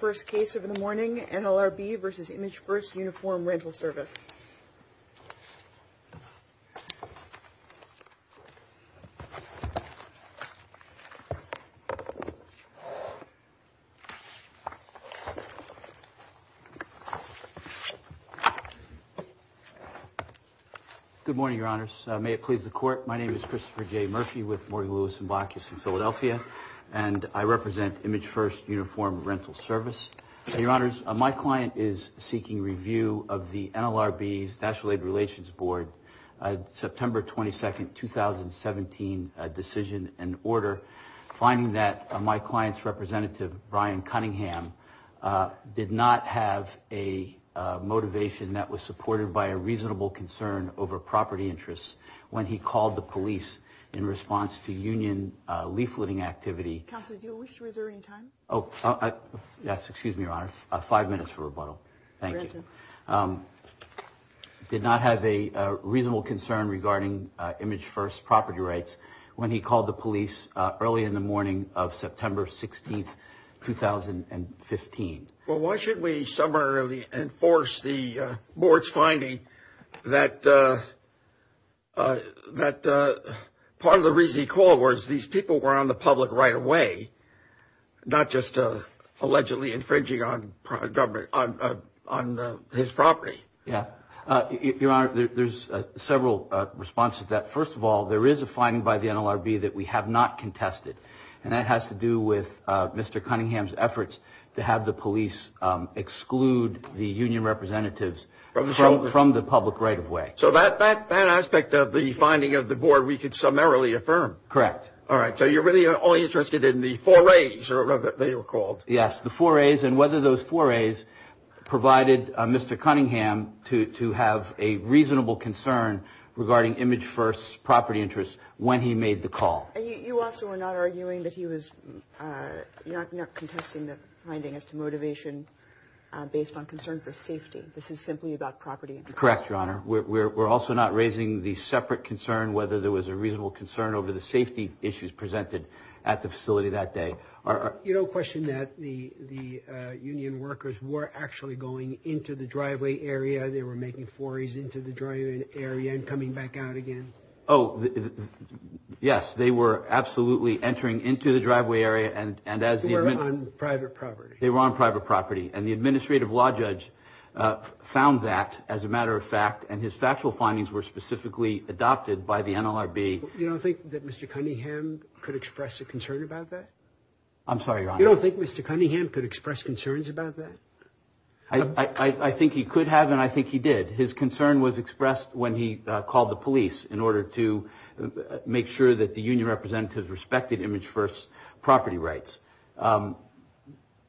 First case of the morning, NLRB v. Imagefirst Uniform Rental Service. Good morning, Your Honors. May it please the Court. My name is Christopher J. Murphy with Morgan Lewis & Blakius in Philadelphia, and I represent Imagefirst Uniform Rental Service. Your Honors, my client is seeking review of the NLRB's National Aid Relations Board September 22, 2017 decision and order, finding that my client's representative, Brian Cunningham, did not have a motivation that was supported by a reasonable concern over property interests when he called the police in response to union leafleting activity. Counsel, do you wish to reserve any time? Oh, yes, excuse me, Your Honor. Five minutes for rebuttal. Thank you. Granted. Did not have a reasonable concern regarding Imagefirst property rights when he called the police early in the morning of September 16, 2015. Well, why should we summarily enforce the board's finding that part of the reason he called was these people were on the public right-of-way, not just allegedly infringing on his property? Yeah. Your Honor, there's several responses to that. First of all, there is a finding by the NLRB that we have not contested, and that has to do with Mr. Cunningham's efforts to have the police exclude the union representatives from the public right-of-way. So that aspect of the finding of the board we could summarily affirm. Correct. All right. So you're really only interested in the four A's, or whatever they were called. Yes, the four A's and whether those four A's provided Mr. Cunningham to have a reasonable concern regarding Imagefirst's property interests when he made the call. You also are not arguing that he was not contesting the finding as to motivation based on concern for safety. This is simply about property interests. Correct, Your Honor. We're also not raising the separate concern whether there was a reasonable concern over the safety issues presented at the facility that day. You don't question that the union workers were actually going into the driveway area, they were making four A's into the driveway area and coming back out again? Oh, yes, they were absolutely entering into the driveway area. They were on private property. They were on private property. And the administrative law judge found that, as a matter of fact, and his factual findings were specifically adopted by the NLRB. You don't think that Mr. Cunningham could express a concern about that? I'm sorry, Your Honor. You don't think Mr. Cunningham could express concerns about that? I think he could have, and I think he did. His concern was expressed when he called the police in order to make sure that the union representatives respected image-first property rights. From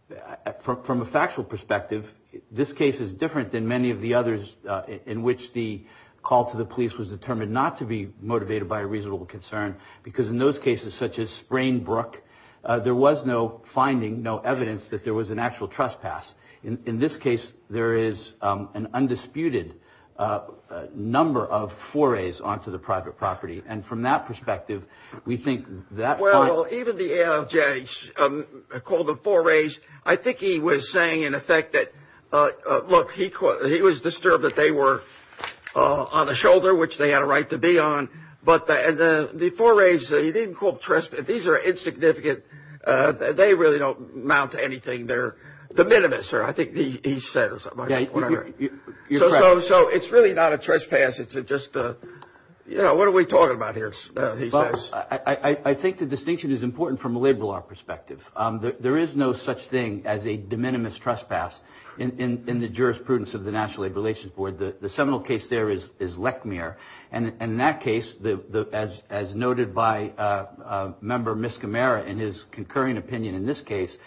a factual perspective, this case is different than many of the others in which the call to the police was determined not to be motivated by a reasonable concern because in those cases, such as Sprain Brook, there was no finding, no evidence that there was an actual trespass. In this case, there is an undisputed number of forays onto the private property. And from that perspective, we think that's fine. Well, even the ALJ called the forays. I think he was saying, in effect, that, look, he was disturbed that they were on a shoulder, which they had a right to be on. But the forays, he didn't call trespass. These are insignificant. They really don't amount to anything. They're de minimis, sir, I think he said. So it's really not a trespass. It's just a, you know, what are we talking about here, he says. I think the distinction is important from a labor law perspective. There is no such thing as a de minimis trespass in the jurisprudence of the National Labor Relations Board. The seminal case there is Lechmere. And in that case, as noted by Member Miskimara in his concurring opinion in this case,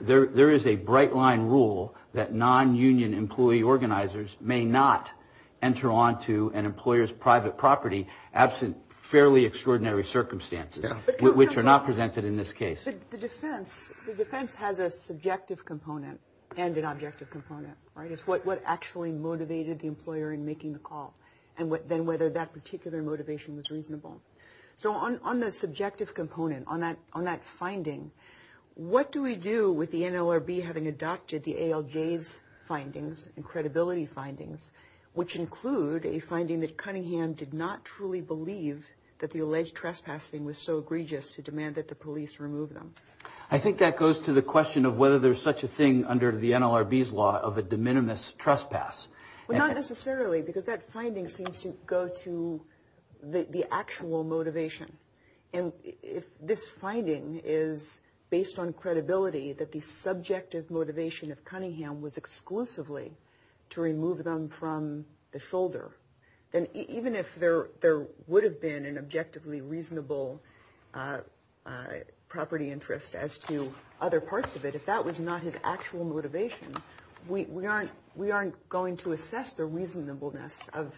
there is a bright-line rule that non-union employee organizers may not enter onto an employer's private property absent fairly extraordinary circumstances, which are not presented in this case. The defense has a subjective component and an objective component, right? It's what actually motivated the employer in making the call, and then whether that particular motivation was reasonable. So on the subjective component, on that finding, what do we do with the NLRB having adopted the ALJ's findings and credibility findings, which include a finding that Cunningham did not truly believe that the alleged trespassing was so egregious to demand that the police remove them? I think that goes to the question of whether there's such a thing under the NLRB's law of a de minimis trespass. Well, not necessarily, because that finding seems to go to the actual motivation. And if this finding is based on credibility, that the subjective motivation of Cunningham was exclusively to remove them from the shoulder, then even if there would have been an objectively reasonable property interest as to other parts of it, if that was not his actual motivation, we aren't going to assess the reasonableness of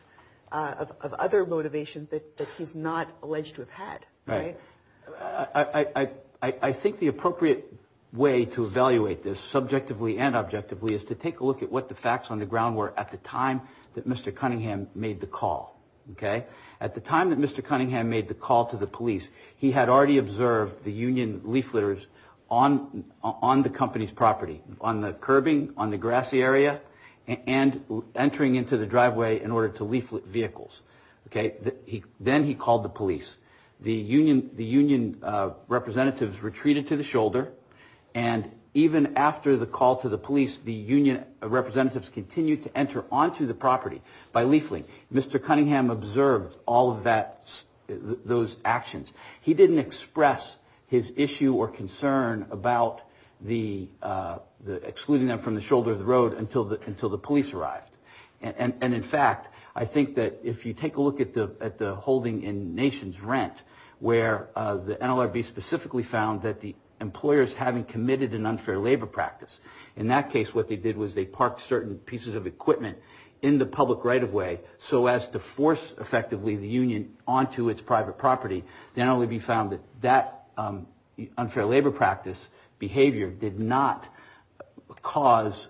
other motivations that he's not alleged to have had, right? I think the appropriate way to evaluate this subjectively and objectively is to take a look at what the facts on the ground were at the time that Mr. Cunningham made the call, okay? At the time that Mr. Cunningham made the call to the police, he had already observed the union leafleters on the company's property, on the curbing, on the grassy area, and entering into the driveway in order to leaflet vehicles, okay? Then he called the police. The union representatives retreated to the shoulder, and even after the call to the police, the union representatives continued to enter onto the property by leafleting. Mr. Cunningham observed all of those actions. He didn't express his issue or concern about excluding them from the shoulder of the road until the police arrived. In fact, I think that if you take a look at the holding in Nations Rent, where the NLRB specifically found that the employers, having committed an unfair labor practice, in that case what they did was they parked certain pieces of equipment in the public right-of-way, so as to force effectively the union onto its private property. The NLRB found that that unfair labor practice behavior did not cause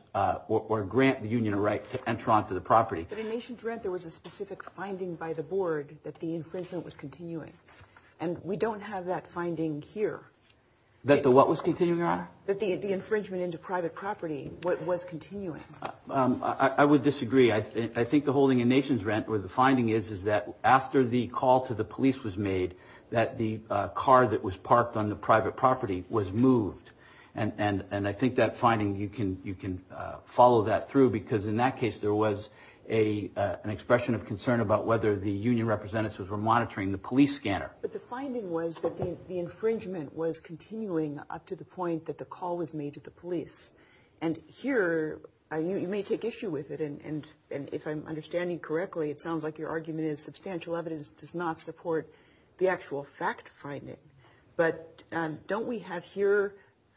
or grant the union a right to enter onto the property. But in Nations Rent, there was a specific finding by the board that the infringement was continuing, and we don't have that finding here. That the what was continuing, Your Honor? That the infringement into private property was continuing. I would disagree. I think the holding in Nations Rent, where the finding is, is that after the call to the police was made, that the car that was parked on the private property was moved. And I think that finding, you can follow that through, because in that case there was an expression of concern about whether the union representatives were monitoring the police scanner. But the finding was that the infringement was continuing up to the point that the call was made to the police. And here, you may take issue with it, and if I'm understanding correctly, it sounds like your argument is substantial evidence does not support the actual fact-finding. But don't we have here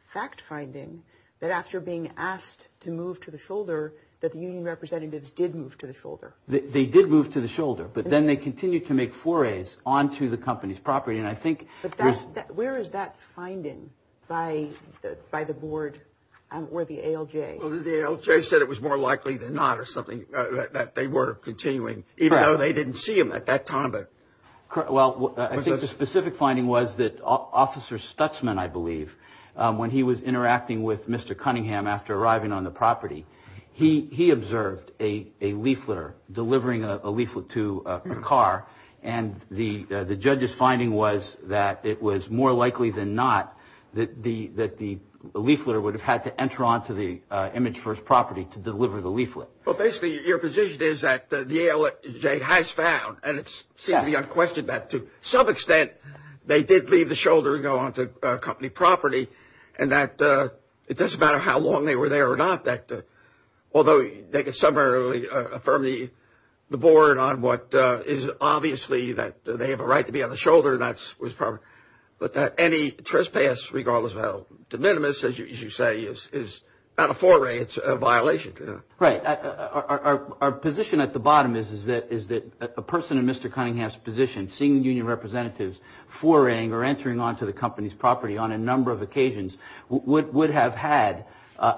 fact-finding that after being asked to move to the shoulder, that the union representatives did move to the shoulder? They did move to the shoulder, but then they continued to make forays onto the company's property. But where is that finding by the board or the ALJ? The ALJ said it was more likely than not that they were continuing, even though they didn't see them at that time. Well, I think the specific finding was that Officer Stutsman, I believe, when he was interacting with Mr. Cunningham after arriving on the property, he observed a leafleter delivering a leaflet to a car. And the judge's finding was that it was more likely than not that the leafleter would have had to enter onto the Image First property to deliver the leaflet. Well, basically, your position is that the ALJ has found, and it seems to be unquestioned, that to some extent they did leave the shoulder and go onto company property, and that it doesn't matter how long they were there or not, although they could summarily affirm the board on what is obviously that they have a right to be on the shoulder. But any trespass, regardless of how de minimis, as you say, is not a foray. It's a violation. Right. Our position at the bottom is that a person in Mr. Cunningham's position, seeing union representatives foraying or entering onto the company's property on a number of occasions,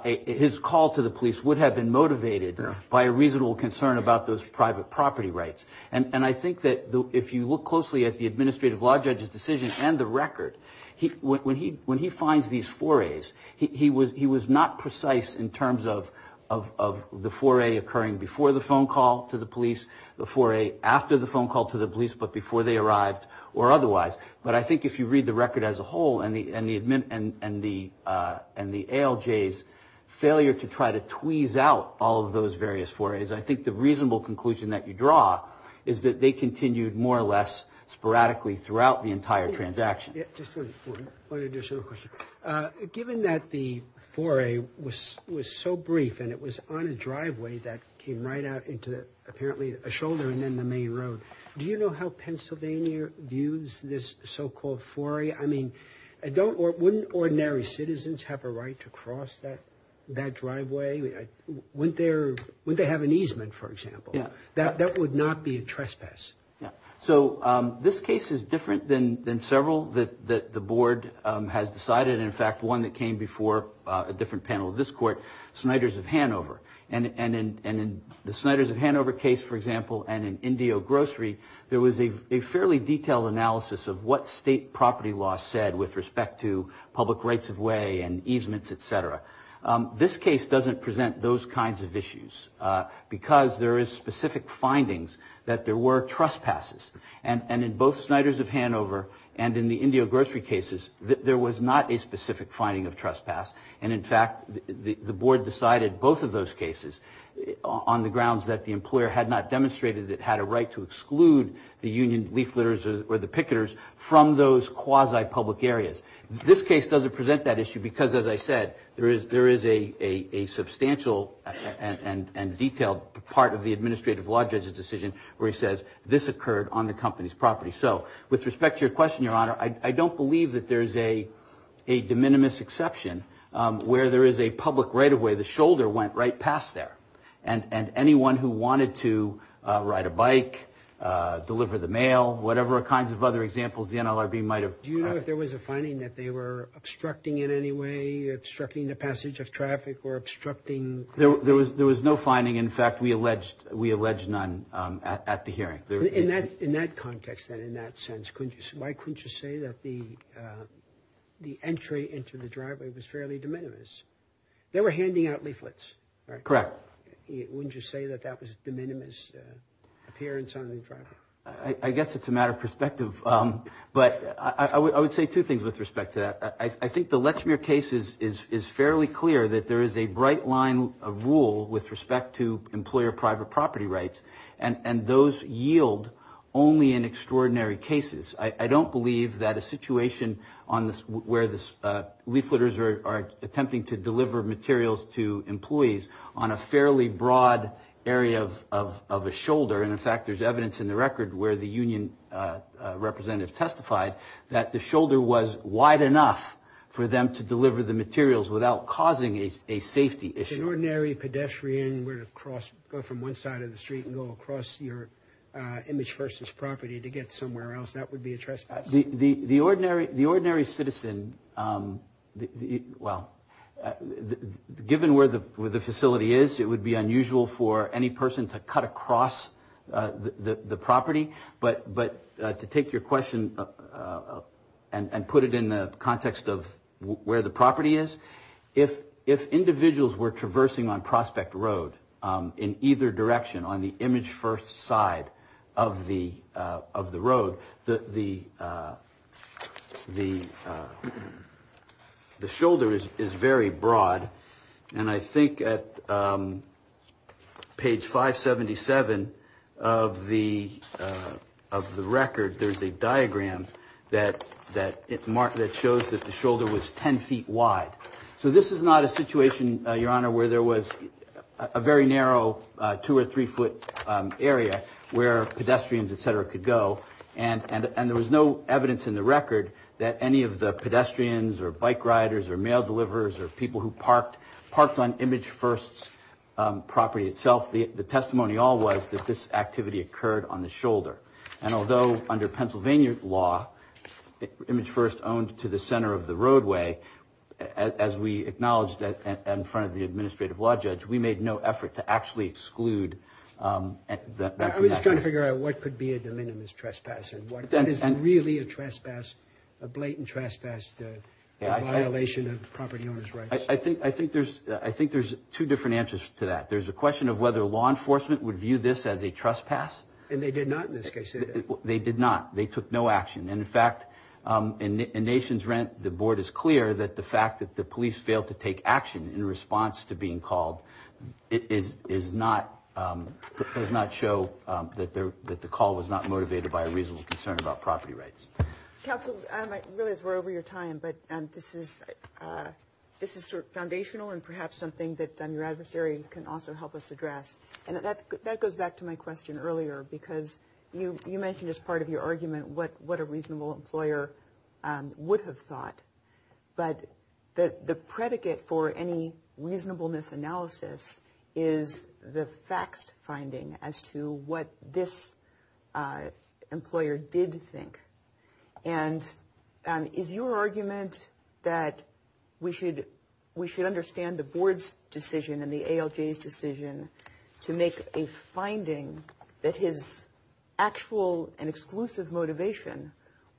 his call to the police would have been motivated by a reasonable concern about those private property rights. And I think that if you look closely at the administrative law judge's decision and the record, when he finds these forays, he was not precise in terms of the foray occurring before the phone call to the police, the foray after the phone call to the police, but before they arrived, or otherwise. But I think if you read the record as a whole and the ALJ's failure to try to tweeze out all of those various forays, I think the reasonable conclusion that you draw is that they continued more or less sporadically throughout the entire transaction. Just one additional question. Given that the foray was so brief and it was on a driveway that came right out into apparently a shoulder and then the main road, do you know how Pennsylvania views this so-called foray? I mean, wouldn't ordinary citizens have a right to cross that driveway? Wouldn't they have an easement, for example? That would not be a trespass. So this case is different than several that the Board has decided, and in fact one that came before a different panel of this Court, Sniders of Hanover. And in the Sniders of Hanover case, for example, and in Indio Grocery, there was a fairly detailed analysis of what state property law said with respect to public rights of way and easements, et cetera. This case doesn't present those kinds of issues, because there is specific findings that there were trespasses. And in both Sniders of Hanover and in the Indio Grocery cases, there was not a specific finding of trespass, and in fact the Board decided both of those cases on the grounds that the employer had not demonstrated that it had a right to exclude the union leafletters or the picketers from those quasi-public areas. This case doesn't present that issue because, as I said, there is a substantial and detailed part of the administrative law judge's decision where he says this occurred on the company's property. So with respect to your question, Your Honor, I don't believe that there is a de minimis exception where there is a public right of way, the shoulder went right past there. And anyone who wanted to ride a bike, deliver the mail, whatever kinds of other examples the NLRB might have... Do you know if there was a finding that they were obstructing in any way, obstructing the passage of traffic or obstructing... There was no finding. In fact, we alleged none at the hearing. In that context then, in that sense, why couldn't you say that the entry into the driveway was fairly de minimis? They were handing out leaflets, right? Correct. Wouldn't you say that that was a de minimis appearance on the driveway? I guess it's a matter of perspective, but I would say two things with respect to that. I think the Lechmere case is fairly clear that there is a bright line of rule with respect to employer private property rights, and those yield only in extraordinary cases. I don't believe that a situation where leafleters are attempting to deliver materials to employees on a fairly broad area of a shoulder, and in fact there's evidence in the record where the union representative testified, that the shoulder was wide enough for them to deliver the materials without causing a safety issue. An ordinary pedestrian would go from one side of the street and go across your image versus property to get somewhere else. That would be a trespass. The ordinary citizen, well, given where the facility is, it would be unusual for any person to cut across the property, but to take your question and put it in the context of where the property is, if individuals were traversing on Prospect Road in either direction on the image-first side of the road, the shoulder is very broad, and I think at page 577 of the Lechmere case, of the record, there's a diagram that shows that the shoulder was 10 feet wide. So this is not a situation, Your Honor, where there was a very narrow two or three foot area where pedestrians, et cetera, could go, and there was no evidence in the record that any of the pedestrians or bike riders or mail deliverers or people who parked on image-first property itself, the testimony all was that this activity occurred on the shoulder. And although under Pennsylvania law, image-first owned to the center of the roadway, as we acknowledged in front of the administrative law judge, we made no effort to actually exclude that from that. I was trying to figure out what could be a de minimis trespass and what is really a blatant trespass, a violation of property owners' rights. I think there's two different answers to that. There's a question of whether law enforcement would view this as a trespass. And they did not in this case, did they? They did not. They took no action. And in fact, in Nations Rent, the board is clear that the fact that the police failed to take action in response to being called does not show that the call was not motivated by a reasonable concern about property rights. Counsel, I realize we're over your time, but this is sort of foundational and perhaps something that your adversary can also help us address. And that goes back to my question earlier, because you mentioned as part of your argument what a reasonable employer would have thought. But the predicate for any reasonableness analysis is the facts finding as to what this employer did think. And is your argument that we should understand the board's decision and the ALJ's decision to make a finding that his actual and exclusive motivation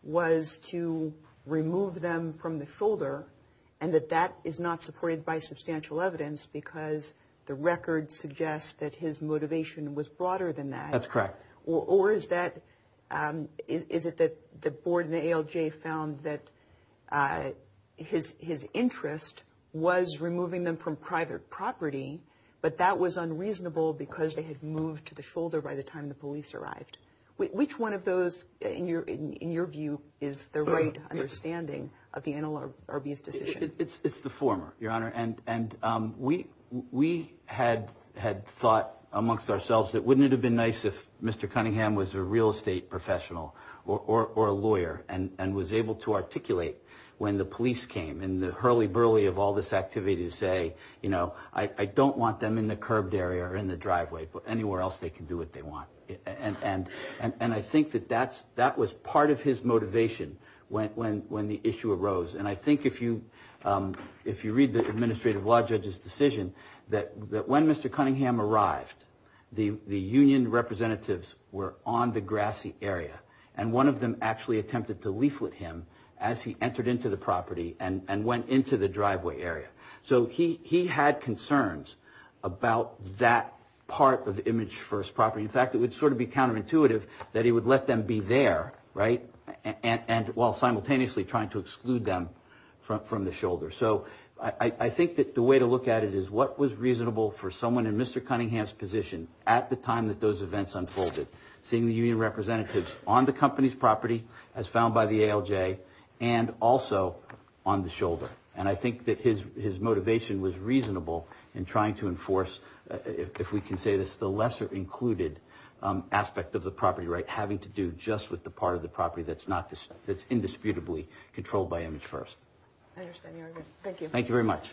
was to remove them from the shoulder and that that is not supported by substantial evidence because the record suggests that his motivation was broader than that? That's correct. Or is it that the board and the ALJ found that his interest was removing them from private property, but that was unreasonable because they had moved to the shoulder by the time the police arrived? Which one of those, in your view, is the right understanding of the NLRB's decision? It's the former, Your Honor. And we had thought amongst ourselves that wouldn't it have been nice if Mr. Cunningham was a real estate professional or a lawyer and was able to articulate when the police came and the hurly-burly of all this activity to say, you know, I don't want them in the curbed area or in the driveway, but anywhere else they can do what they want. And I think that that was part of his motivation when the issue arose. And I think if you read the administrative law judge's decision that when Mr. Cunningham arrived, the union representatives were on the grassy area, and one of them actually attempted to leaflet him as he entered into the property and went into the driveway area. So he had concerns about that part of image-first property. In fact, it would sort of be counterintuitive that he would let them be there, right, while simultaneously trying to exclude them from the shoulder. So I think that the way to look at it is what was reasonable for someone in Mr. Cunningham's position at the time that those events unfolded, seeing the union representatives on the company's property as found by the ALJ and also on the shoulder. And I think that his motivation was reasonable in trying to enforce, if we can say this, the lesser included aspect of the property right, having to do just with the part of the property that's indisputably controlled by image-first. Thank you very much.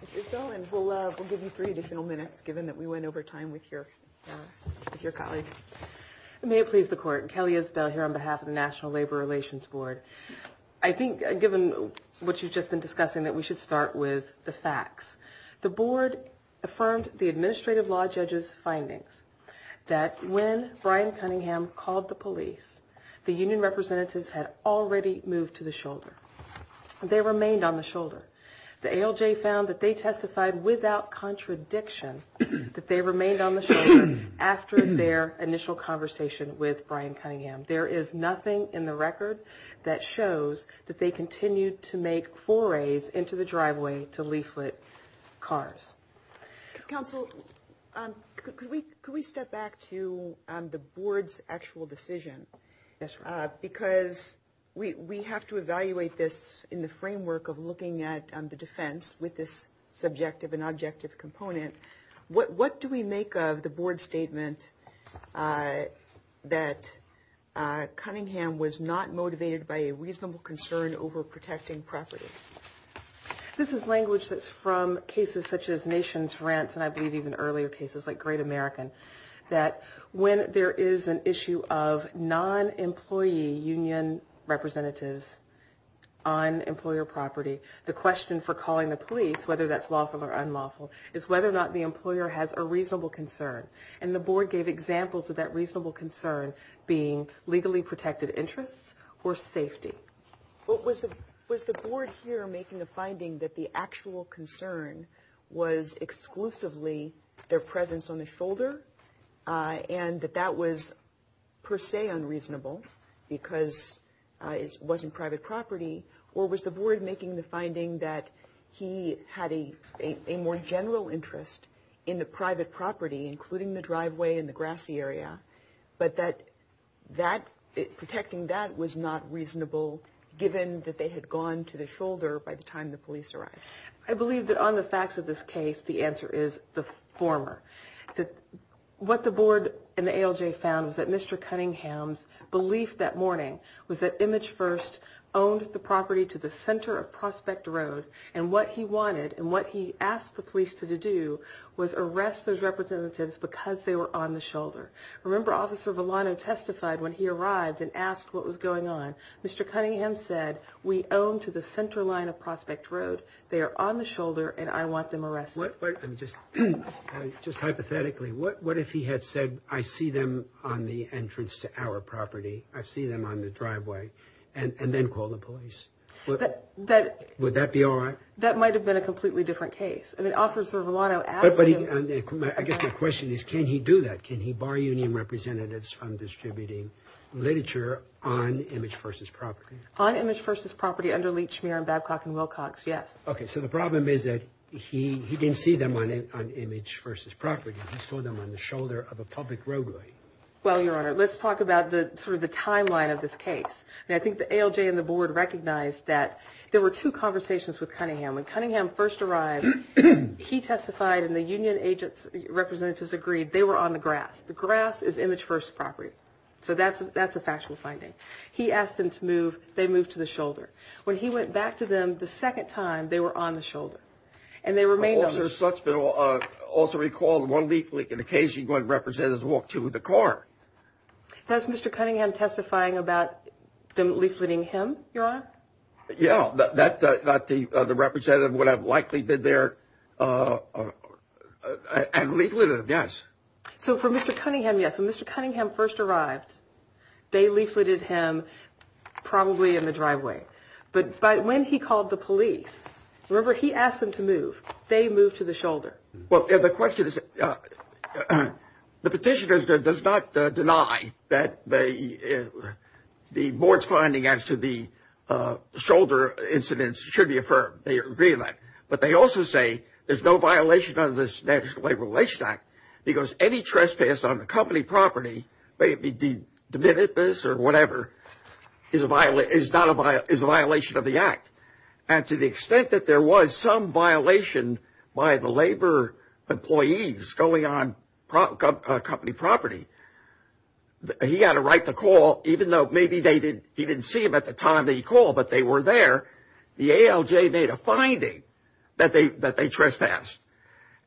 Ms. Isbell, and we'll give you three additional minutes, given that we went over time with your colleague. May it please the Court, Kelly Isbell here on behalf of the National Labor Relations Board. I think, given what you've just been discussing, that we should start with the facts. The board affirmed the administrative law judge's findings that when Brian Cunningham called the police, the union representatives had already moved to the shoulder. They remained on the shoulder. The ALJ found that they testified without contradiction that they remained on the shoulder after their initial conversation with Brian Cunningham. There is nothing in the record that shows that they continued to make forays into the driveway to leaflet cars. Counsel, could we step back to the board's actual decision? Because we have to evaluate this in the framework of looking at the defense with this subjective and objective component. What do we make of the board's statement that Cunningham was not motivated by a reasonable concern over protecting property? This is language that's from cases such as Nation's Rents, and I believe even earlier cases like Great American, that when there is an issue of non-employee union representatives on employer property, the question for calling the police, whether that's lawful or unlawful, is whether or not the employer has a reasonable concern. And the board gave examples of that reasonable concern being legally protected interests or safety. Was the board here making a finding that the actual concern was exclusively their presence on the shoulder? And that that was per se unreasonable because it wasn't private property? Or was the board making the finding that he had a more general interest in the private property, including the driveway and the grassy area, but that protecting that was not reasonable given that they had gone to the shoulder by the time the police arrived? I believe that on the facts of this case, the answer is the former. What the board and the ALJ found was that Mr. Cunningham's belief that morning was that Image First owned the property to the center of Prospect Road, and what he wanted and what he asked the police to do was arrest those representatives because they were on the shoulder. Remember, Officer Villano testified when he arrived and asked what was going on. Mr. Cunningham said, we own to the center line of Prospect Road, they are on the shoulder, and I want them arrested. Just hypothetically, what if he had said, I see them on the entrance to our property, I see them on the driveway, and then call the police? Would that be all right? That might have been a completely different case. I guess my question is, can he do that? Can he bar union representatives from distributing literature on Image First's property? On Image First's property under Leach, Schmier, Babcock, and Wilcox, yes. Okay, so the problem is that he didn't see them on Image First's property, he saw them on the shoulder of a public roadway. Well, Your Honor, let's talk about the timeline of this case. I think the ALJ and the board recognized that there were two conversations with Cunningham. When Cunningham first arrived, he testified and the union representatives agreed they were on the grass. The grass is Image First's property, so that's a factual finding. He asked them to move, they moved to the shoulder. When he went back to them the second time, they were on the shoulder, and they remained on the shoulder. I also recall one leaflet in the case, one representative walked to the car. Was Mr. Cunningham testifying about them leafleting him, Your Honor? Yeah, the representative would have likely been there and leafleted him, yes. So for Mr. Cunningham, yes, when Mr. Cunningham first arrived, they leafleted him probably in the driveway. But when he called the police, remember, he asked them to move. They moved to the shoulder. Well, the question is, the petitioner does not deny that the board's finding as to the shoulder incidents should be affirmed. They agree on that. But they also say there's no violation under this National Labor Relations Act, because any trespass on the company property, may it be de minimis or whatever, is a violation of the act. And to the extent that there was some violation by the labor employees going on company property, he had a right to call, even though maybe he didn't see them at the time that he called, but they were there. The ALJ made a finding that they trespassed.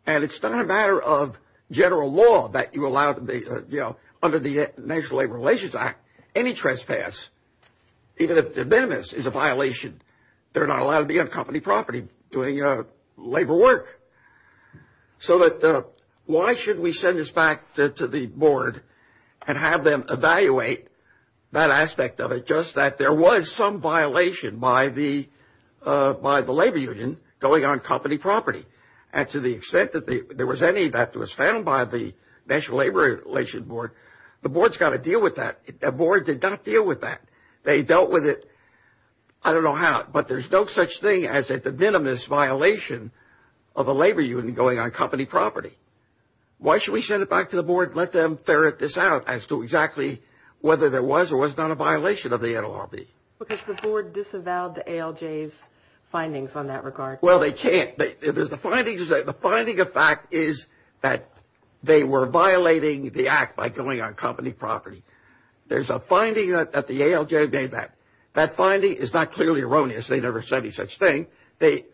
And it's not a matter of general law that you allow, under the National Labor Relations Act, any trespass, even if de minimis, is a violation. They're not allowed to be on company property doing labor work. So why should we send this back to the board and have them evaluate that aspect of it, just that there was some violation by the labor union going on company property? And to the extent that there was any that was found by the National Labor Relations Board, the board's got to deal with that. The board did not deal with that. They dealt with it, I don't know how, but there's no such thing as a de minimis violation of a labor union going on company property. Why should we send it back to the board and let them ferret this out as to exactly whether there was or was not a violation of the NLRB? Because the board disavowed the ALJ's findings on that regard. Well, they can't. The finding of fact is that they were violating the act by going on company property. There's a finding that the ALJ made that. That finding is not clearly erroneous. They never said any such thing. They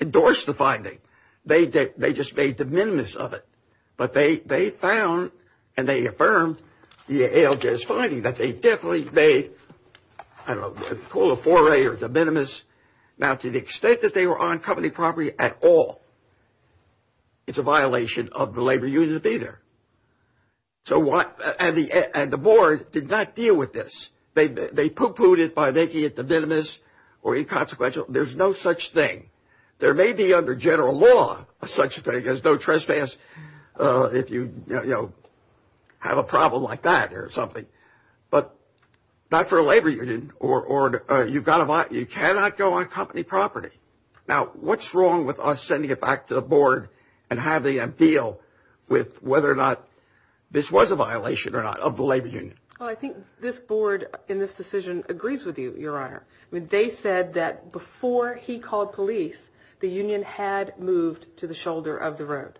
endorsed the finding. They just made de minimis of it. But they found and they affirmed the ALJ's finding that they definitely made, I don't know, a pool of foray or de minimis. Now, to the extent that they were on company property at all, it's a violation of the labor union to be there. And the board did not deal with this. They pooh-poohed it by making it de minimis or inconsequential. There's no such thing. There may be under general law such a thing as no trespass if you have a problem like that or something, but not for a labor union. You cannot go on company property. Now, what's wrong with us sending it back to the board and having them deal with whether or not this was a violation or not of the labor union? Well, I think this board in this decision agrees with you, Your Honor. They said that before he called police, the union had moved to the shoulder of the road.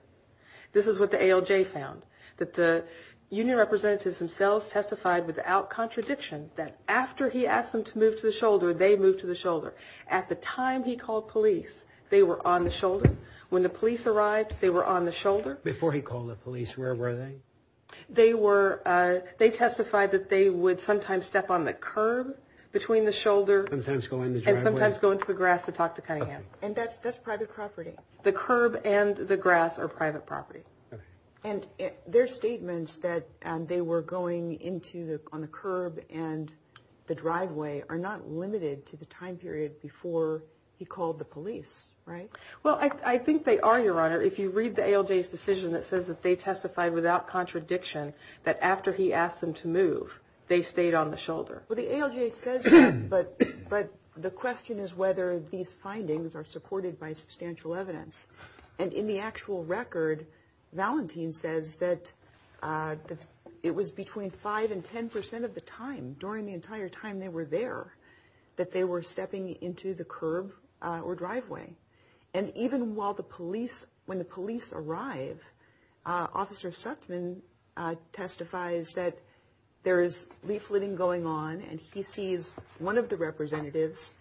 This is what the ALJ found, that the union representatives themselves testified without contradiction that after he asked them to move to the shoulder, they moved to the shoulder. At the time he called police, they were on the shoulder. When the police arrived, they were on the shoulder. They testified that they would sometimes step on the curb between the shoulder and sometimes go into the grass to talk to Cunningham. And that's private property. The curb and the grass are private property. And their statements that they were going on the curb and the driveway are not limited to the time period before he called the police, right? Well, I think they are, Your Honor. If you read the ALJ's decision that says that they testified without contradiction that after he asked them to move, they stayed on the shoulder. Well, the ALJ says that, but the question is whether these findings are supported by substantial evidence. And in the actual record, Valentin says that it was between 5 and 10 percent of the time, during the entire time they were there, that they were stepping into the curb or driveway. And even while the police, when the police arrive, Officer Suttman testifies that there is leafleting going on, and he sees one of the representatives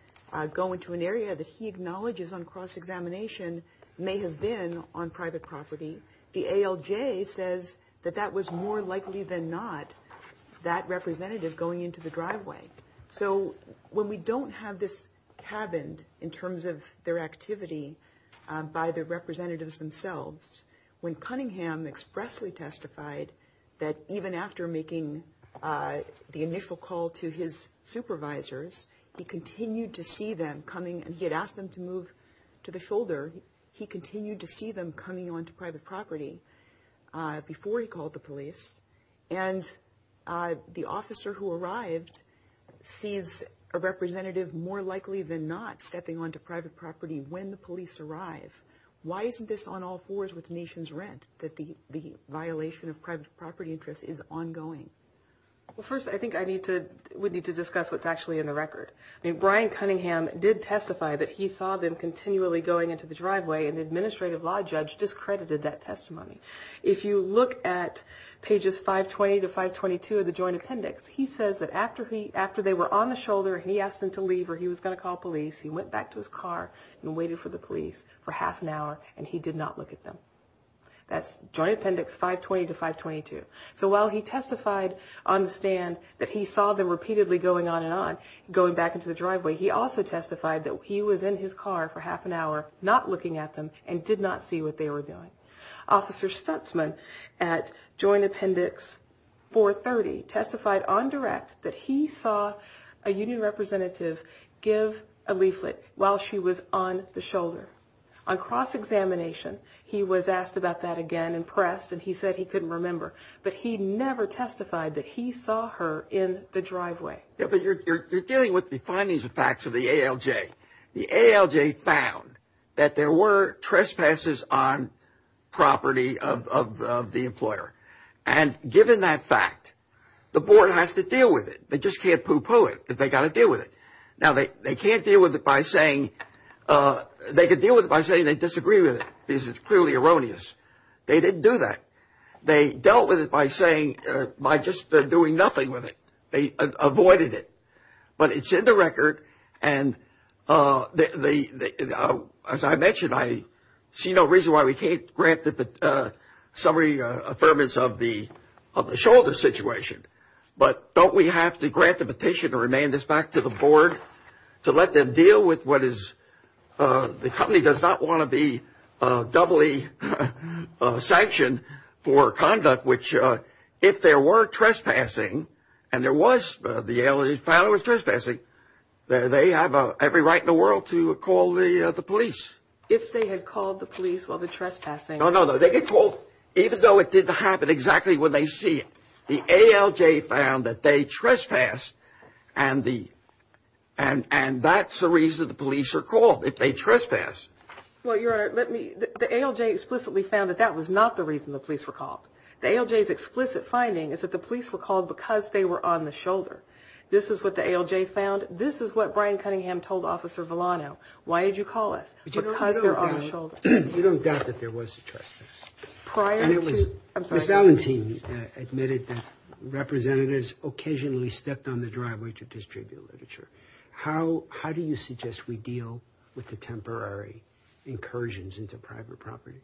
go into an area that he acknowledges on cross-examination may have been on private property. The ALJ says that that was more likely than not that representative going into the driveway. So when we don't have this cabined in terms of their activity by the representatives themselves, when Cunningham expressly testified that even after making the initial call to his supervisors, he continued to see them coming, and he had asked them to move to the shoulder, he continued to see them coming onto private property before he called the police. And the officer who arrived sees a representative more likely than not stepping onto private property when the police arrive. Why isn't this on all fours with nation's rent, that the violation of private property interests is ongoing? Well, first, I think I need to, we need to discuss what's actually in the record. I mean, Brian Cunningham did testify that he saw them continually going into the driveway, and the administrative law judge discredited that testimony. If you look at pages 520 to 522 of the joint appendix, he says that after they were on the shoulder, he asked them to leave or he was going to call police. He went back to his car and waited for the police for half an hour, and he did not look at them. That's joint appendix 520 to 522. So while he testified on the stand that he saw them repeatedly going on and on, going back into the driveway, he also testified that he was in his car for half an hour not looking at them and did not see what they were doing. Officer Stutzman at joint appendix 430 testified on direct that he saw a union representative give a leaflet while she was on the shoulder. On cross-examination, he was asked about that again in press, and he said he couldn't remember, but he never testified that he saw her in the driveway. But you're dealing with the findings and facts of the ALJ. The ALJ found that there were trespasses on property of the employer, and given that fact, the board has to deal with it. They just can't poo-poo it, but they've got to deal with it. Now, they can't deal with it by saying they disagree with it because it's clearly erroneous. They didn't do that. They dealt with it by just doing nothing with it. They avoided it. But it's in the record, and as I mentioned, I see no reason why we can't grant the summary affirmance of the shoulder situation. But don't we have to grant the petition and remand this back to the board to let them deal with what is the company does not want to be doubly sanctioned for conduct, which if there were trespassing and there was, the ALJ found there was trespassing, they have every right in the world to call the police. If they had called the police while they're trespassing. No, no, no. They get called even though it didn't happen exactly when they see it. The ALJ found that they trespassed, and that's the reason the police are called, if they trespass. Well, Your Honor, the ALJ explicitly found that that was not the reason the police were called. The ALJ's explicit finding is that the police were called because they were on the shoulder. This is what the ALJ found. This is what Brian Cunningham told Officer Villano. Why did you call us? Because they're on the shoulder. You don't doubt that there was a trespass. Ms. Valentin admitted that representatives occasionally stepped on the driveway to distribute literature. How do you suggest we deal with the temporary incursions into private property?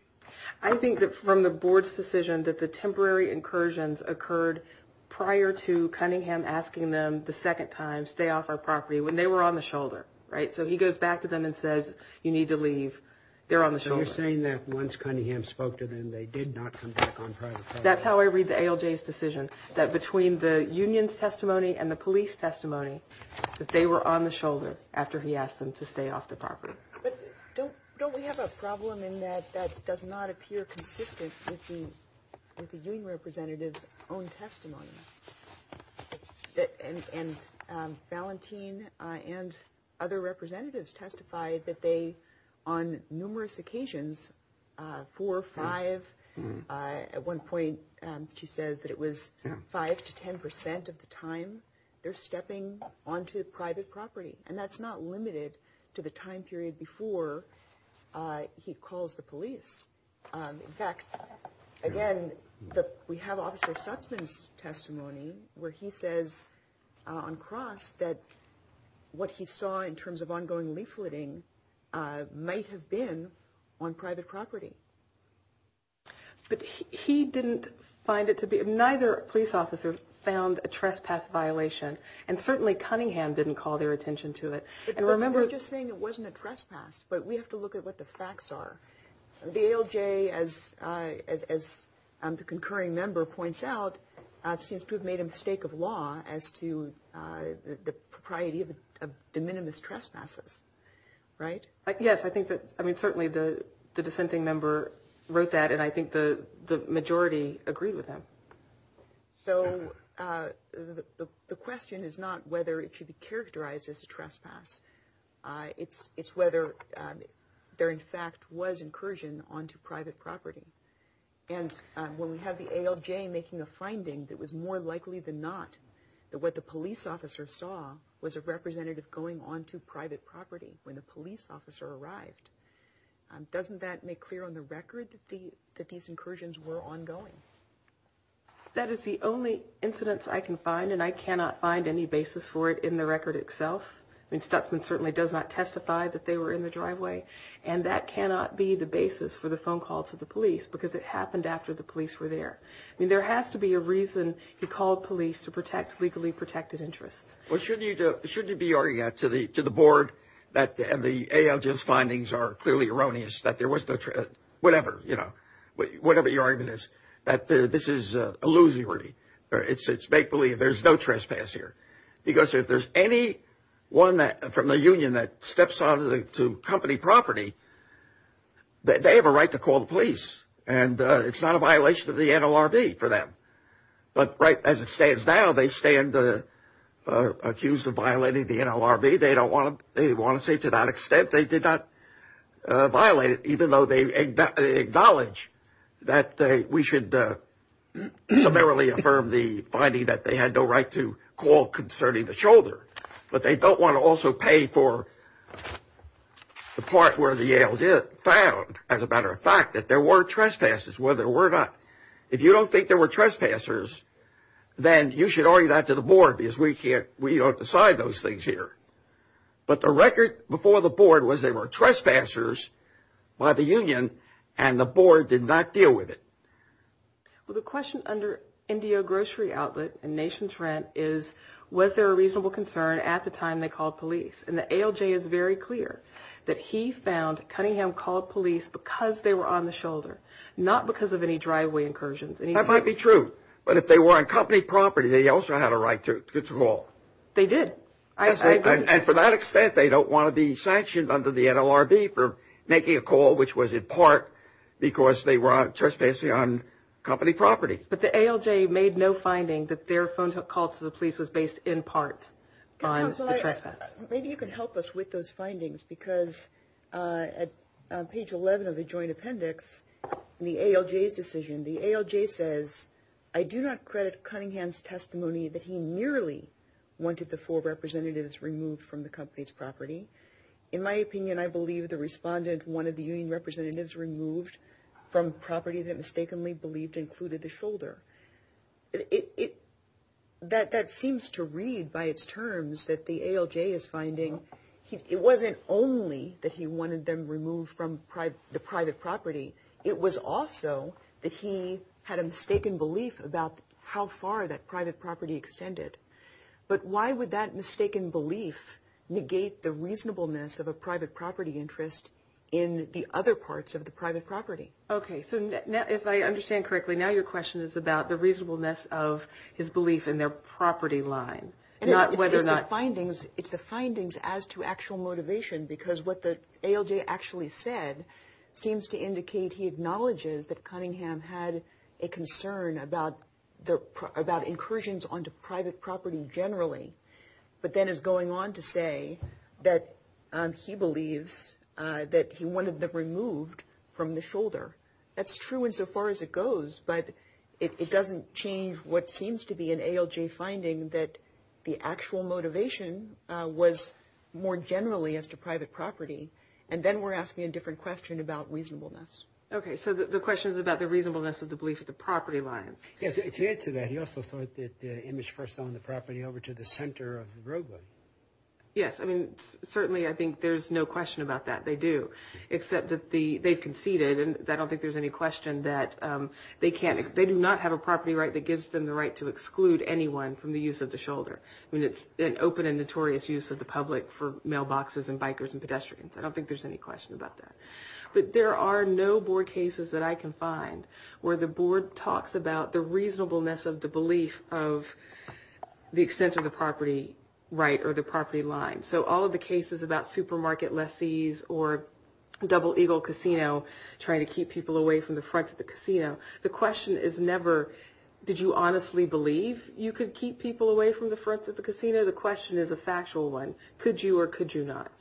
I think that from the board's decision that the temporary incursions occurred prior to Cunningham asking them the second time, stay off our property, when they were on the shoulder. So he goes back to them and says, you need to leave. They're on the shoulder. So you're saying that once Cunningham spoke to them, they did not come back on private property? That's how I read the ALJ's decision, that between the union's testimony and the police testimony, that they were on the shoulder after he asked them to stay off the property. But don't we have a problem in that that does not appear consistent with the union representative's own testimony? And Valentin and other representatives testified that they, on numerous occasions, four or five, at one point she says that it was five to ten percent of the time, they're stepping onto private property. And that's not limited to the time period before he calls the police. In fact, again, we have Officer Sutsman's testimony where he says on cross that what he saw in terms of ongoing leafleting might have been on private property. But he didn't find it to be, neither police officer found a trespass violation. And certainly Cunningham didn't call their attention to it. They're just saying it wasn't a trespass, but we have to look at what the facts are. The ALJ, as the concurring member points out, seems to have made a mistake of law as to the propriety of de minimis trespasses, right? Yes, I think that, I mean, certainly the dissenting member wrote that, and I think the majority agreed with him. So the question is not whether it should be characterized as a trespass. It's whether there, in fact, was incursion onto private property. And when we have the ALJ making a finding that was more likely than not that what the police officer saw was a representative going onto private property when the police officer arrived, doesn't that make clear on the record that these incursions were ongoing? That is the only incidence I can find, and I cannot find any basis for it in the record itself. I mean, Stutzman certainly does not testify that they were in the driveway, and that cannot be the basis for the phone call to the police because it happened after the police were there. I mean, there has to be a reason he called police to protect legally protected interests. Well, shouldn't you be arguing to the board that the ALJ's findings are clearly erroneous, that there was no trespass, whatever, you know, whatever your argument is, that this is illusory, it's make-believe, there's no trespass here. Because if there's any one from the union that steps onto company property, they have a right to call the police, and it's not a violation of the NLRB for them. But right as it stands now, they stand accused of violating the NLRB. They don't want to say to that extent they did not violate it, even though they acknowledge that we should summarily affirm the finding that they had no right to call concerning the shoulder. But they don't want to also pay for the part where the ALJ found, as a matter of fact, that there were trespasses, whether or not. If you don't think there were trespassers, then you should argue that to the board because we don't decide those things here. But the record before the board was there were trespassers by the union, and the board did not deal with it. Well, the question under NDO Grocery Outlet and Nation's Rent is, was there a reasonable concern at the time they called police? And the ALJ is very clear that he found Cunningham called police because they were on the shoulder, not because of any driveway incursions. That might be true, but if they were on company property, they also had a right to call. They did. And to that extent, they don't want to be sanctioned under the NLRB for making a call which was in part because they were trespassing on company property. But the ALJ made no finding that their phone call to the police was based in part on the trespass. Maybe you can help us with those findings because on page 11 of the joint appendix, in the ALJ's decision, the ALJ says, I do not credit Cunningham's testimony that he merely wanted the four representatives removed from the company's property. In my opinion, I believe the respondent wanted the union representatives removed from property that mistakenly believed included the shoulder. That seems to read by its terms that the ALJ is finding. It wasn't only that he wanted them removed from the private property. It was also that he had a mistaken belief about how far that private property extended. But why would that mistaken belief negate the reasonableness of a private property interest in the other parts of the private property? Okay, so if I understand correctly, now your question is about the reasonableness of his belief in their property line. It's the findings as to actual motivation because what the ALJ actually said seems to indicate he acknowledges that Cunningham had a concern about incursions onto private property generally, but then is going on to say that he believes that he wanted them removed from the shoulder. That's true insofar as it goes, but it doesn't change what seems to be an ALJ finding that the actual motivation was more generally as to private property. And then we're asking a different question about reasonableness. Okay, so the question is about the reasonableness of the belief of the property lines. To add to that, he also thought that Image first owned the property over to the center of the roadway. Yes, I mean, certainly I think there's no question about that. They do, except that they conceded, and I don't think there's any question that they do not have a property right that gives them the right to exclude anyone from the use of the shoulder. I mean, it's an open and notorious use of the public for mailboxes and bikers and pedestrians. I don't think there's any question about that. But there are no board cases that I can find where the board talks about the reasonableness of the belief of the extent of the property right or the property line. So all of the cases about supermarket lessees or Double Eagle Casino trying to keep people away from the front of the casino, the question is never did you honestly believe you could keep people away from the front of the casino? The question is a factual one. Could you or could you not?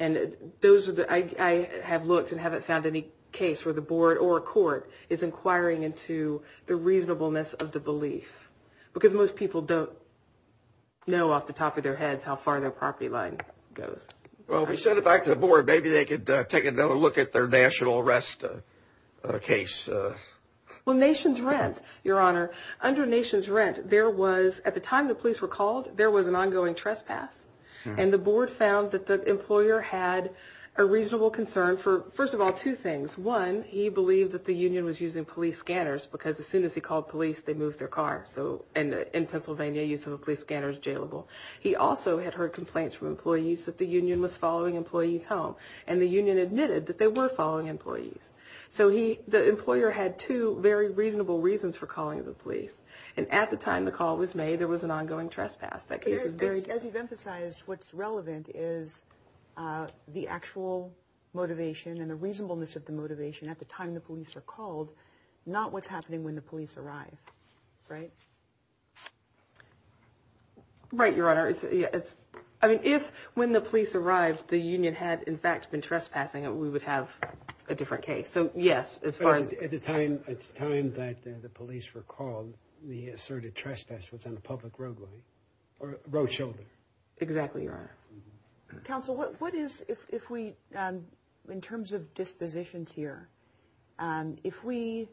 And those are the – I have looked and haven't found any case where the board or a court is inquiring into the reasonableness of the belief, because most people don't know off the top of their heads how far their property line goes. Well, if we send it back to the board, maybe they could take another look at their national arrest case. Well, Nation's Rent, Your Honor, under Nation's Rent, there was – at the time the police were called, there was an ongoing trespass. And the board found that the employer had a reasonable concern for, first of all, two things. One, he believed that the union was using police scanners, because as soon as he called police, they moved their car. So – and in Pennsylvania, use of a police scanner is jailable. He also had heard complaints from employees that the union was following employees home. And the union admitted that they were following employees. So he – the employer had two very reasonable reasons for calling the police. And at the time the call was made, there was an ongoing trespass. That case is buried. As you've emphasized, what's relevant is the actual motivation and the reasonableness of the motivation at the time the police are called, not what's happening when the police arrive, right? Right, Your Honor. I mean, if when the police arrived, the union had, in fact, been trespassing, we would have a different case. So, yes, as far as – When it's time that the police were called, the asserted trespass was on the public roadway or road shoulder. Exactly, Your Honor. Counsel, what is – if we – in terms of dispositions here, if we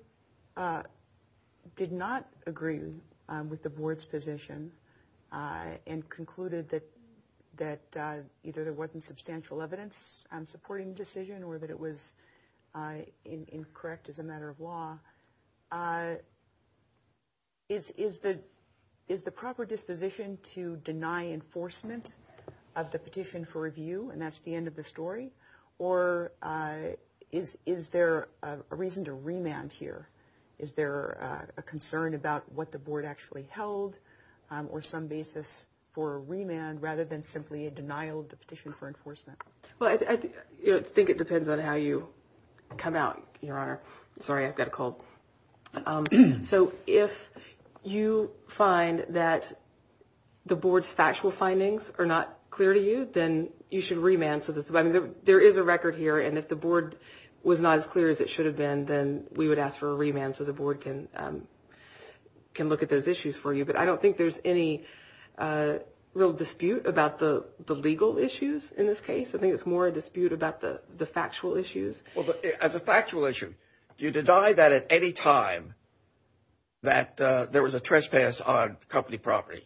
did not agree with the board's position and concluded that either there wasn't substantial evidence on supporting the decision or that it was incorrect as a matter of law, is the proper disposition to deny enforcement of the petition for review and that's the end of the story? Or is there a reason to remand here? Is there a concern about what the board actually held or some basis for a remand rather than simply a denial of the petition for enforcement? Well, I think it depends on how you come out, Your Honor. Sorry, I've got a cold. So if you find that the board's factual findings are not clear to you, then you should remand. There is a record here, and if the board was not as clear as it should have been, then we would ask for a remand so the board can look at those issues for you. But I don't think there's any real dispute about the legal issues in this case. I think it's more a dispute about the factual issues. As a factual issue, do you deny that at any time that there was a trespass on company property?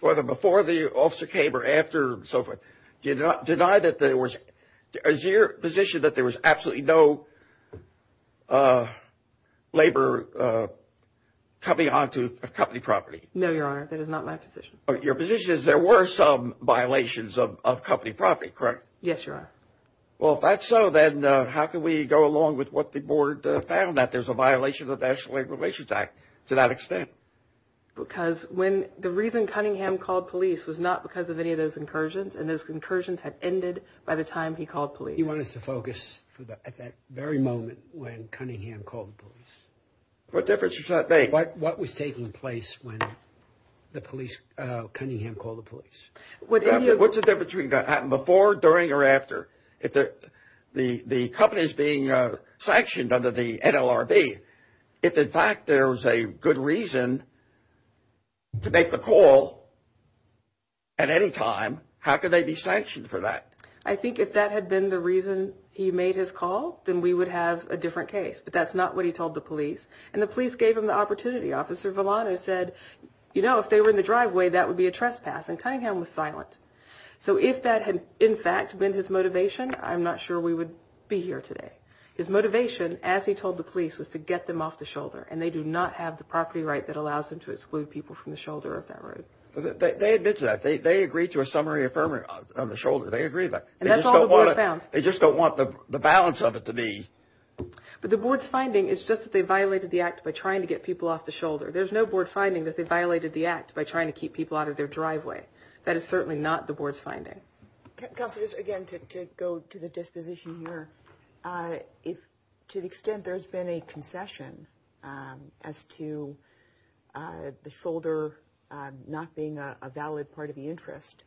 Whether before the officer came or after and so forth. Do you deny that there was – is your position that there was absolutely no labor coming onto company property? No, Your Honor. That is not my position. Your position is there were some violations of company property, correct? Yes, Your Honor. Well, if that's so, then how can we go along with what the board found, that there's a violation of the National Labor Relations Act to that extent? Because when – the reason Cunningham called police was not because of any of those incursions, and those incursions had ended by the time he called police. You want us to focus at that very moment when Cunningham called the police? What difference does that make? What was taking place when the police – Cunningham called the police? What's the difference between before, during, or after? The company is being sanctioned under the NLRB. If, in fact, there was a good reason to make the call at any time, how could they be sanctioned for that? I think if that had been the reason he made his call, then we would have a different case. But that's not what he told the police. And the police gave him the opportunity. Officer Villano said, you know, if they were in the driveway, that would be a trespass. And Cunningham was silent. So if that had, in fact, been his motivation, I'm not sure we would be here today. His motivation, as he told the police, was to get them off the shoulder. And they do not have the property right that allows them to exclude people from the shoulder of that road. They admitted to that. They agreed to a summary affirmative on the shoulder. They agreed to that. And that's all the board found. They just don't want the balance of it to be – But the board's finding is just that they violated the act by trying to get people off the shoulder. There's no board finding that they violated the act by trying to keep people out of their driveway. That is certainly not the board's finding. Counsel, just again to go to the disposition here, to the extent there's been a concession as to the shoulder not being a valid part of the interest,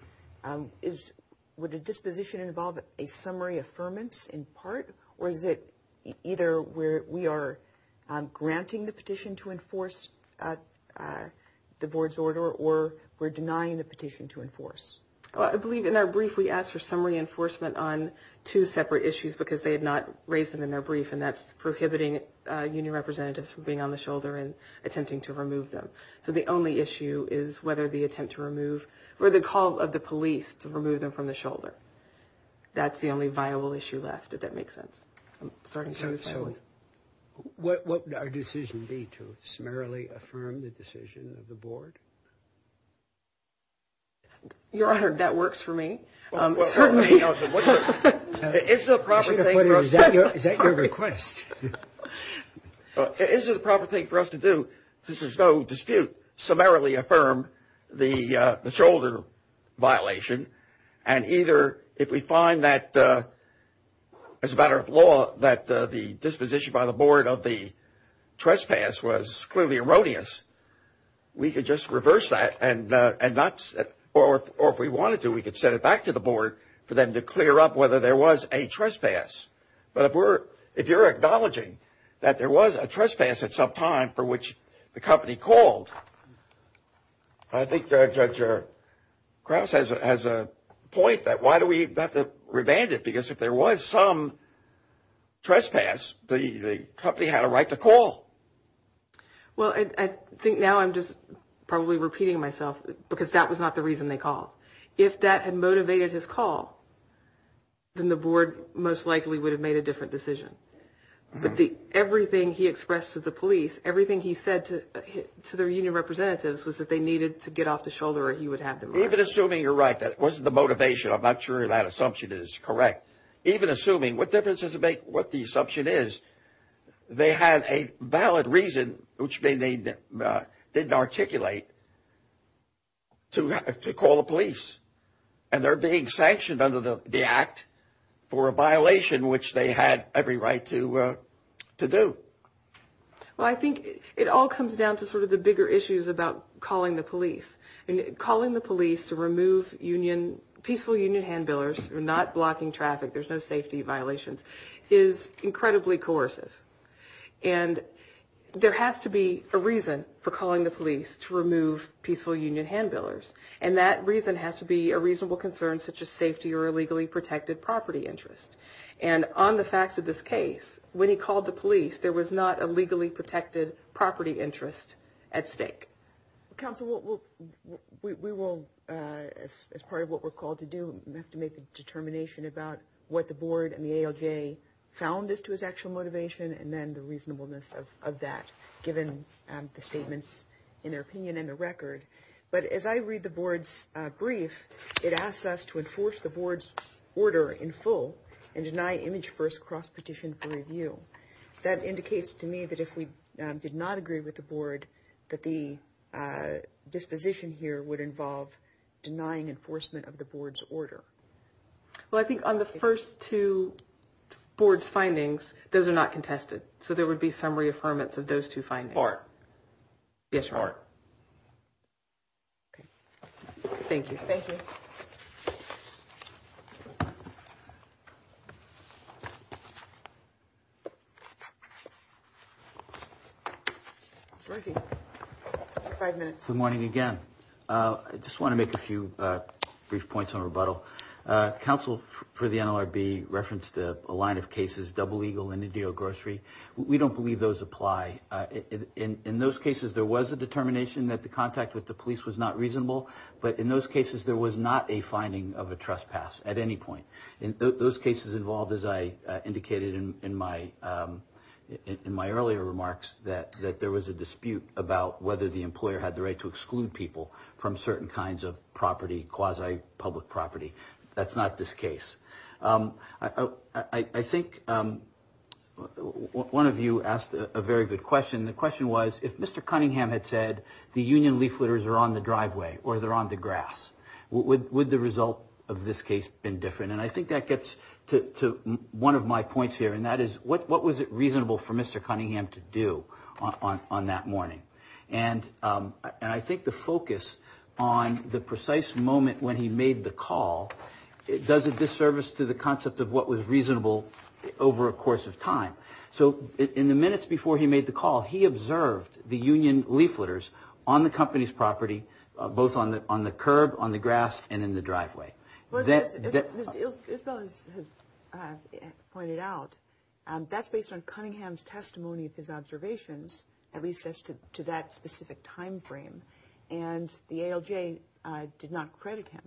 would a disposition involve a summary affirmance in part? Or is it either we are granting the petition to enforce the board's order or we're denying the petition to enforce? Well, I believe in our brief we asked for summary enforcement on two separate issues because they had not raised them in their brief, and that's prohibiting union representatives from being on the shoulder and attempting to remove them. So the only issue is whether the attempt to remove – or the call of the police to remove them from the shoulder. That's the only viable issue left, if that makes sense. So what would our decision be to summarily affirm the decision of the board? Your Honor, that works for me. Certainly. Is the proper thing for us to do? Is that your request? Is it the proper thing for us to do since there's no dispute, affirm the shoulder violation and either if we find that as a matter of law that the disposition by the board of the trespass was clearly erroneous, we could just reverse that and not – or if we wanted to, we could send it back to the board for them to clear up whether there was a trespass. But if you're acknowledging that there was a trespass at some time for which the company called, I think Judge Krause has a point that why do we have to revand it? Because if there was some trespass, the company had a right to call. Well, I think now I'm just probably repeating myself because that was not the reason they called. If that had motivated his call, then the board most likely would have made a different decision. But everything he expressed to the police, everything he said to their union representatives was that they needed to get off the shoulder or he would have them. Even assuming you're right, that wasn't the motivation. I'm not sure that assumption is correct. Even assuming, what difference does it make what the assumption is? They had a valid reason, which they didn't articulate, to call the police. And they're being sanctioned under the act for a violation which they had every right to do. Well, I think it all comes down to sort of the bigger issues about calling the police. Calling the police to remove peaceful union handbillers, not blocking traffic, there's no safety violations, is incredibly coercive. And there has to be a reason for calling the police to remove peaceful union handbillers. And that reason has to be a reasonable concern such as safety or illegally protected property interest. And on the facts of this case, when he called the police, there was not a legally protected property interest at stake. Counsel, we will, as part of what we're called to do, have to make a determination about what the board and the ALJ found as to his actual motivation and then the reasonableness of that, given the statements in their opinion and the record. But as I read the board's brief, it asks us to enforce the board's order in full and deny image-first cross-petition for review. That indicates to me that if we did not agree with the board, that the disposition here would involve denying enforcement of the board's order. Well, I think on the first two board's findings, those are not contested. So there would be summary affirmance of those two findings. Yes, ma'am. Thank you. Thank you. Good morning again. I just want to make a few brief points on rebuttal. Counsel for the NLRB referenced a line of cases, Double Eagle and Indio Grocery. We don't believe those apply. In those cases, there was a determination that the contact with the police was not reasonable. But in those cases, there was not a finding of a trespass at any point. Those cases involved, as I indicated in my earlier remarks, that there was a dispute about whether the employer had the right to exclude people from certain kinds of property, quasi-public property. That's not this case. I think one of you asked a very good question. The question was, if Mr. Cunningham had said the union leafleters are on the driveway or they're on the grass, would the result of this case have been different? And I think that gets to one of my points here, and that is what was it reasonable for Mr. Cunningham to do on that morning? And I think the focus on the precise moment when he made the call, it does a disservice to the concept of what was reasonable over a course of time. So in the minutes before he made the call, he observed the union leafleters on the company's property, both on the curb, on the grass, and in the driveway. Isabel has pointed out that's based on Cunningham's testimony of his observations, at least as to that specific time frame, and the ALJ did not credit him.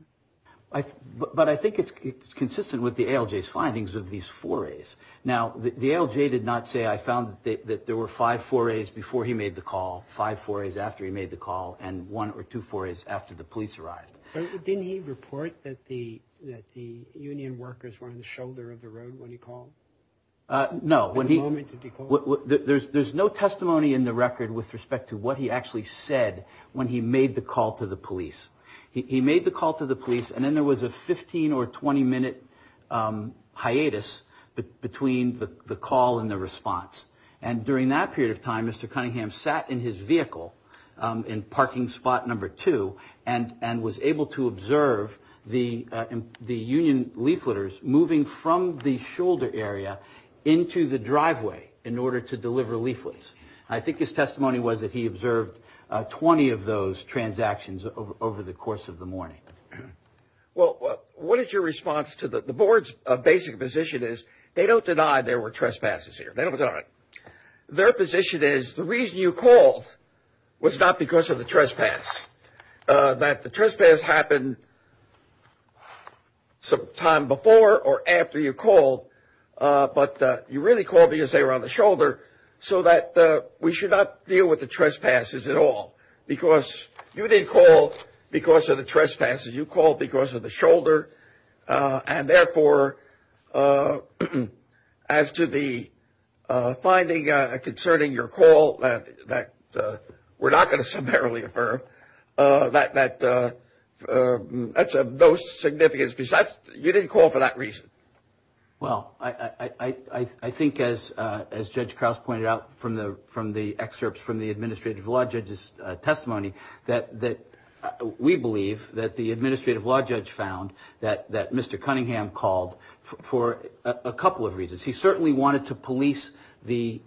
But I think it's consistent with the ALJ's findings of these forays. Now, the ALJ did not say, I found that there were five forays before he made the call, five forays after he made the call, and one or two forays after the police arrived. Didn't he report that the union workers were on the shoulder of the road when he called? No. What moment did he call? There's no testimony in the record with respect to what he actually said when he made the call to the police. He made the call to the police, and then there was a 15- or 20-minute hiatus between the call and the response. And during that period of time, Mr. Cunningham sat in his vehicle in parking spot number two and was able to observe the union leafleters moving from the shoulder area into the driveway in order to deliver leaflets. I think his testimony was that he observed 20 of those transactions over the course of the morning. Well, what is your response to the board's basic position is they don't deny there were trespasses here. They don't deny it. Their position is the reason you called was not because of the trespass, that the trespass happened sometime before or after you called, but you really called because they were on the shoulder so that we should not deal with the trespasses at all. Because you didn't call because of the trespasses. You called because of the shoulder. And, therefore, as to the finding concerning your call that we're not going to summarily affirm, that's of no significance because you didn't call for that reason. Well, I think, as Judge Krause pointed out from the excerpts from the administrative law judge's testimony, that we believe that the administrative law judge found that Mr. Cunningham called for a couple of reasons. He certainly wanted to police the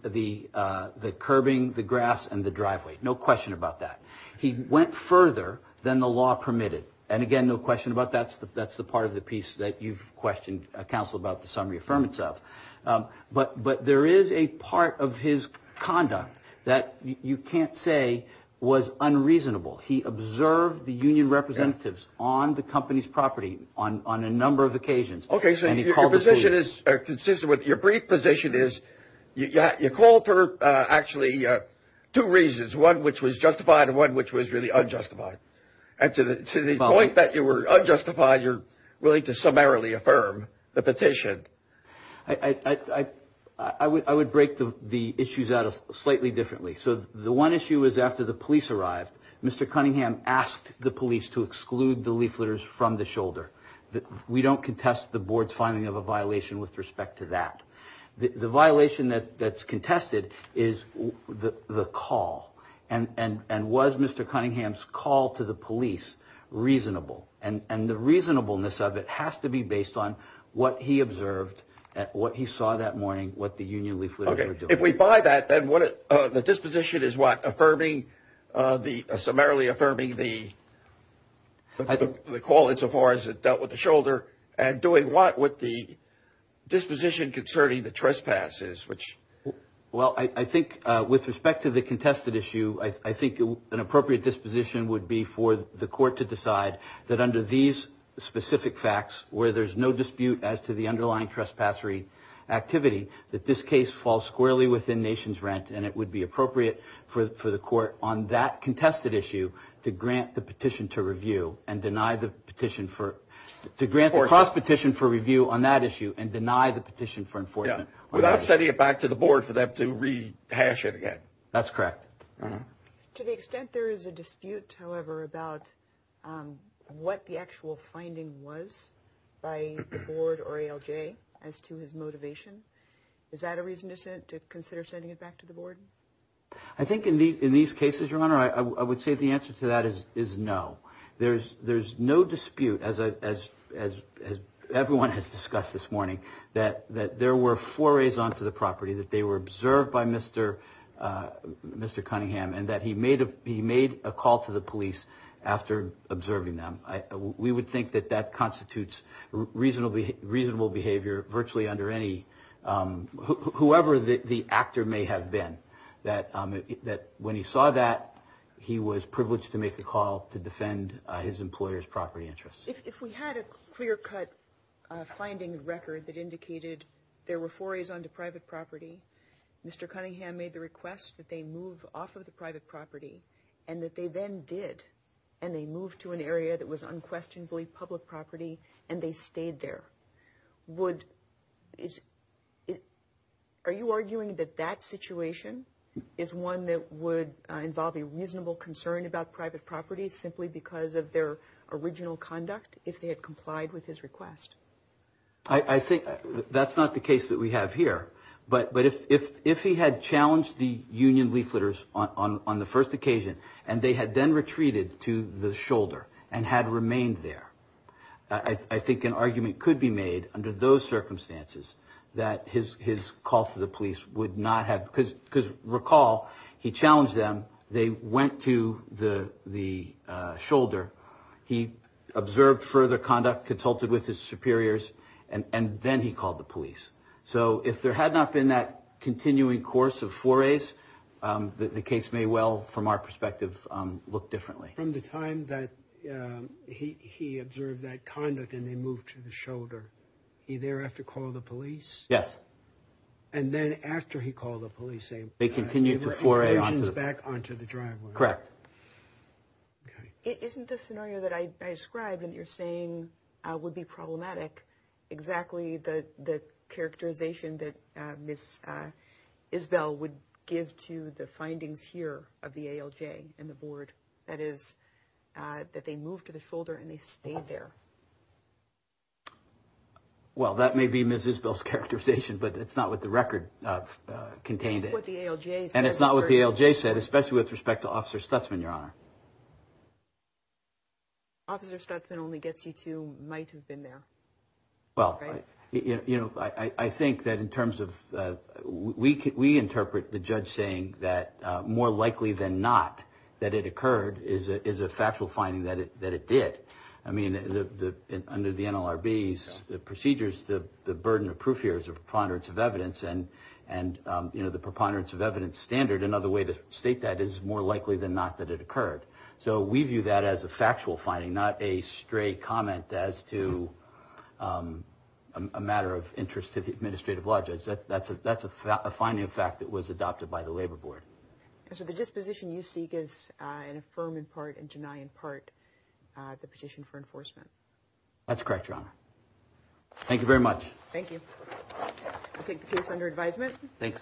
curbing, the grass, and the driveway. No question about that. He went further than the law permitted. And, again, no question about that. That's the part of the piece that you've questioned, Counsel, about the summary affirmance of. But there is a part of his conduct that you can't say was unreasonable. He observed the union representatives on the company's property on a number of occasions. Okay. So your position is consistent with your brief position is you called for actually two reasons, one which was justified and one which was really unjustified. And to the point that you were unjustified, you're willing to summarily affirm the petition. I would break the issues out slightly differently. So the one issue is after the police arrived, Mr. Cunningham asked the police to exclude the leafleters from the shoulder. We don't contest the board's finding of a violation with respect to that. The violation that's contested is the call. And was Mr. Cunningham's call to the police reasonable? And the reasonableness of it has to be based on what he observed, what he saw that morning, what the union leafleters were doing. Okay. If we buy that, then the disposition is what? Summarily affirming the call insofar as it dealt with the shoulder and doing what with the disposition concerning the trespasses, which? Well, I think with respect to the contested issue, I think an appropriate disposition would be for the court to decide that under these specific facts, where there's no dispute as to the underlying trespass activity, that this case falls squarely within nation's rent, and it would be appropriate for the court on that contested issue to grant the petition to review and deny the petition for, to grant the cross-petition for review on that issue and deny the petition for enforcement. Without sending it back to the board for them to rehash it again. That's correct. To the extent there is a dispute, however, about what the actual finding was by the board or ALJ as to his motivation, is that a reason to consider sending it back to the board? I think in these cases, Your Honor, I would say the answer to that is no. There's no dispute, as everyone has discussed this morning, that there were forays onto the property, that they were observed by Mr. Cunningham, and that he made a call to the police after observing them. We would think that that constitutes reasonable behavior virtually under any, whoever the actor may have been, that when he saw that, he was privileged to make a call to defend his employer's property interests. If we had a clear-cut finding record that indicated there were forays onto private property, Mr. Cunningham made the request that they move off of the private property, and that they then did, and they moved to an area that was unquestionably public property, and they stayed there. Are you arguing that that situation is one that would involve a reasonable concern about private property simply because of their original conduct, if they had complied with his request? I think that's not the case that we have here. But if he had challenged the union leafleters on the first occasion, and they had then retreated to the shoulder and had remained there, I think an argument could be made under those circumstances that his call to the police would not have, because recall, he challenged them, they went to the shoulder, he observed further conduct, consulted with his superiors, and then he called the police. So if there had not been that continuing course of forays, the case may well, from our perspective, look differently. From the time that he observed that conduct, and they moved to the shoulder, he thereafter called the police? Yes. And then after he called the police, they moved provisions back onto the driveway? Correct. Isn't the scenario that I described, and you're saying would be problematic, exactly the characterization that Ms. Isbell would give to the findings here of the ALJ and the board, that is, that they moved to the shoulder and they stayed there? Well, that may be Ms. Isbell's characterization, but it's not what the record contained. That's what the ALJ said. And it's not what the ALJ said, especially with respect to Officer Stutzman, Your Honor. Officer Stutzman only gets you to might have been there. Well, I think that in terms of we interpret the judge saying that more likely than not that it occurred is a factual finding that it did. I mean, under the NLRB's procedures, the burden of proof here is a preponderance of evidence, and the preponderance of evidence standard, another way to state that is more likely than not that it occurred. So we view that as a factual finding, not a stray comment as to a matter of interest to the administrative lodges. That's a finding of fact that was adopted by the Labor Board. So the disposition you seek is to affirm in part and deny in part the petition for enforcement? That's correct, Your Honor. Thank you very much. Thank you. I take the case under advisement. Thanks.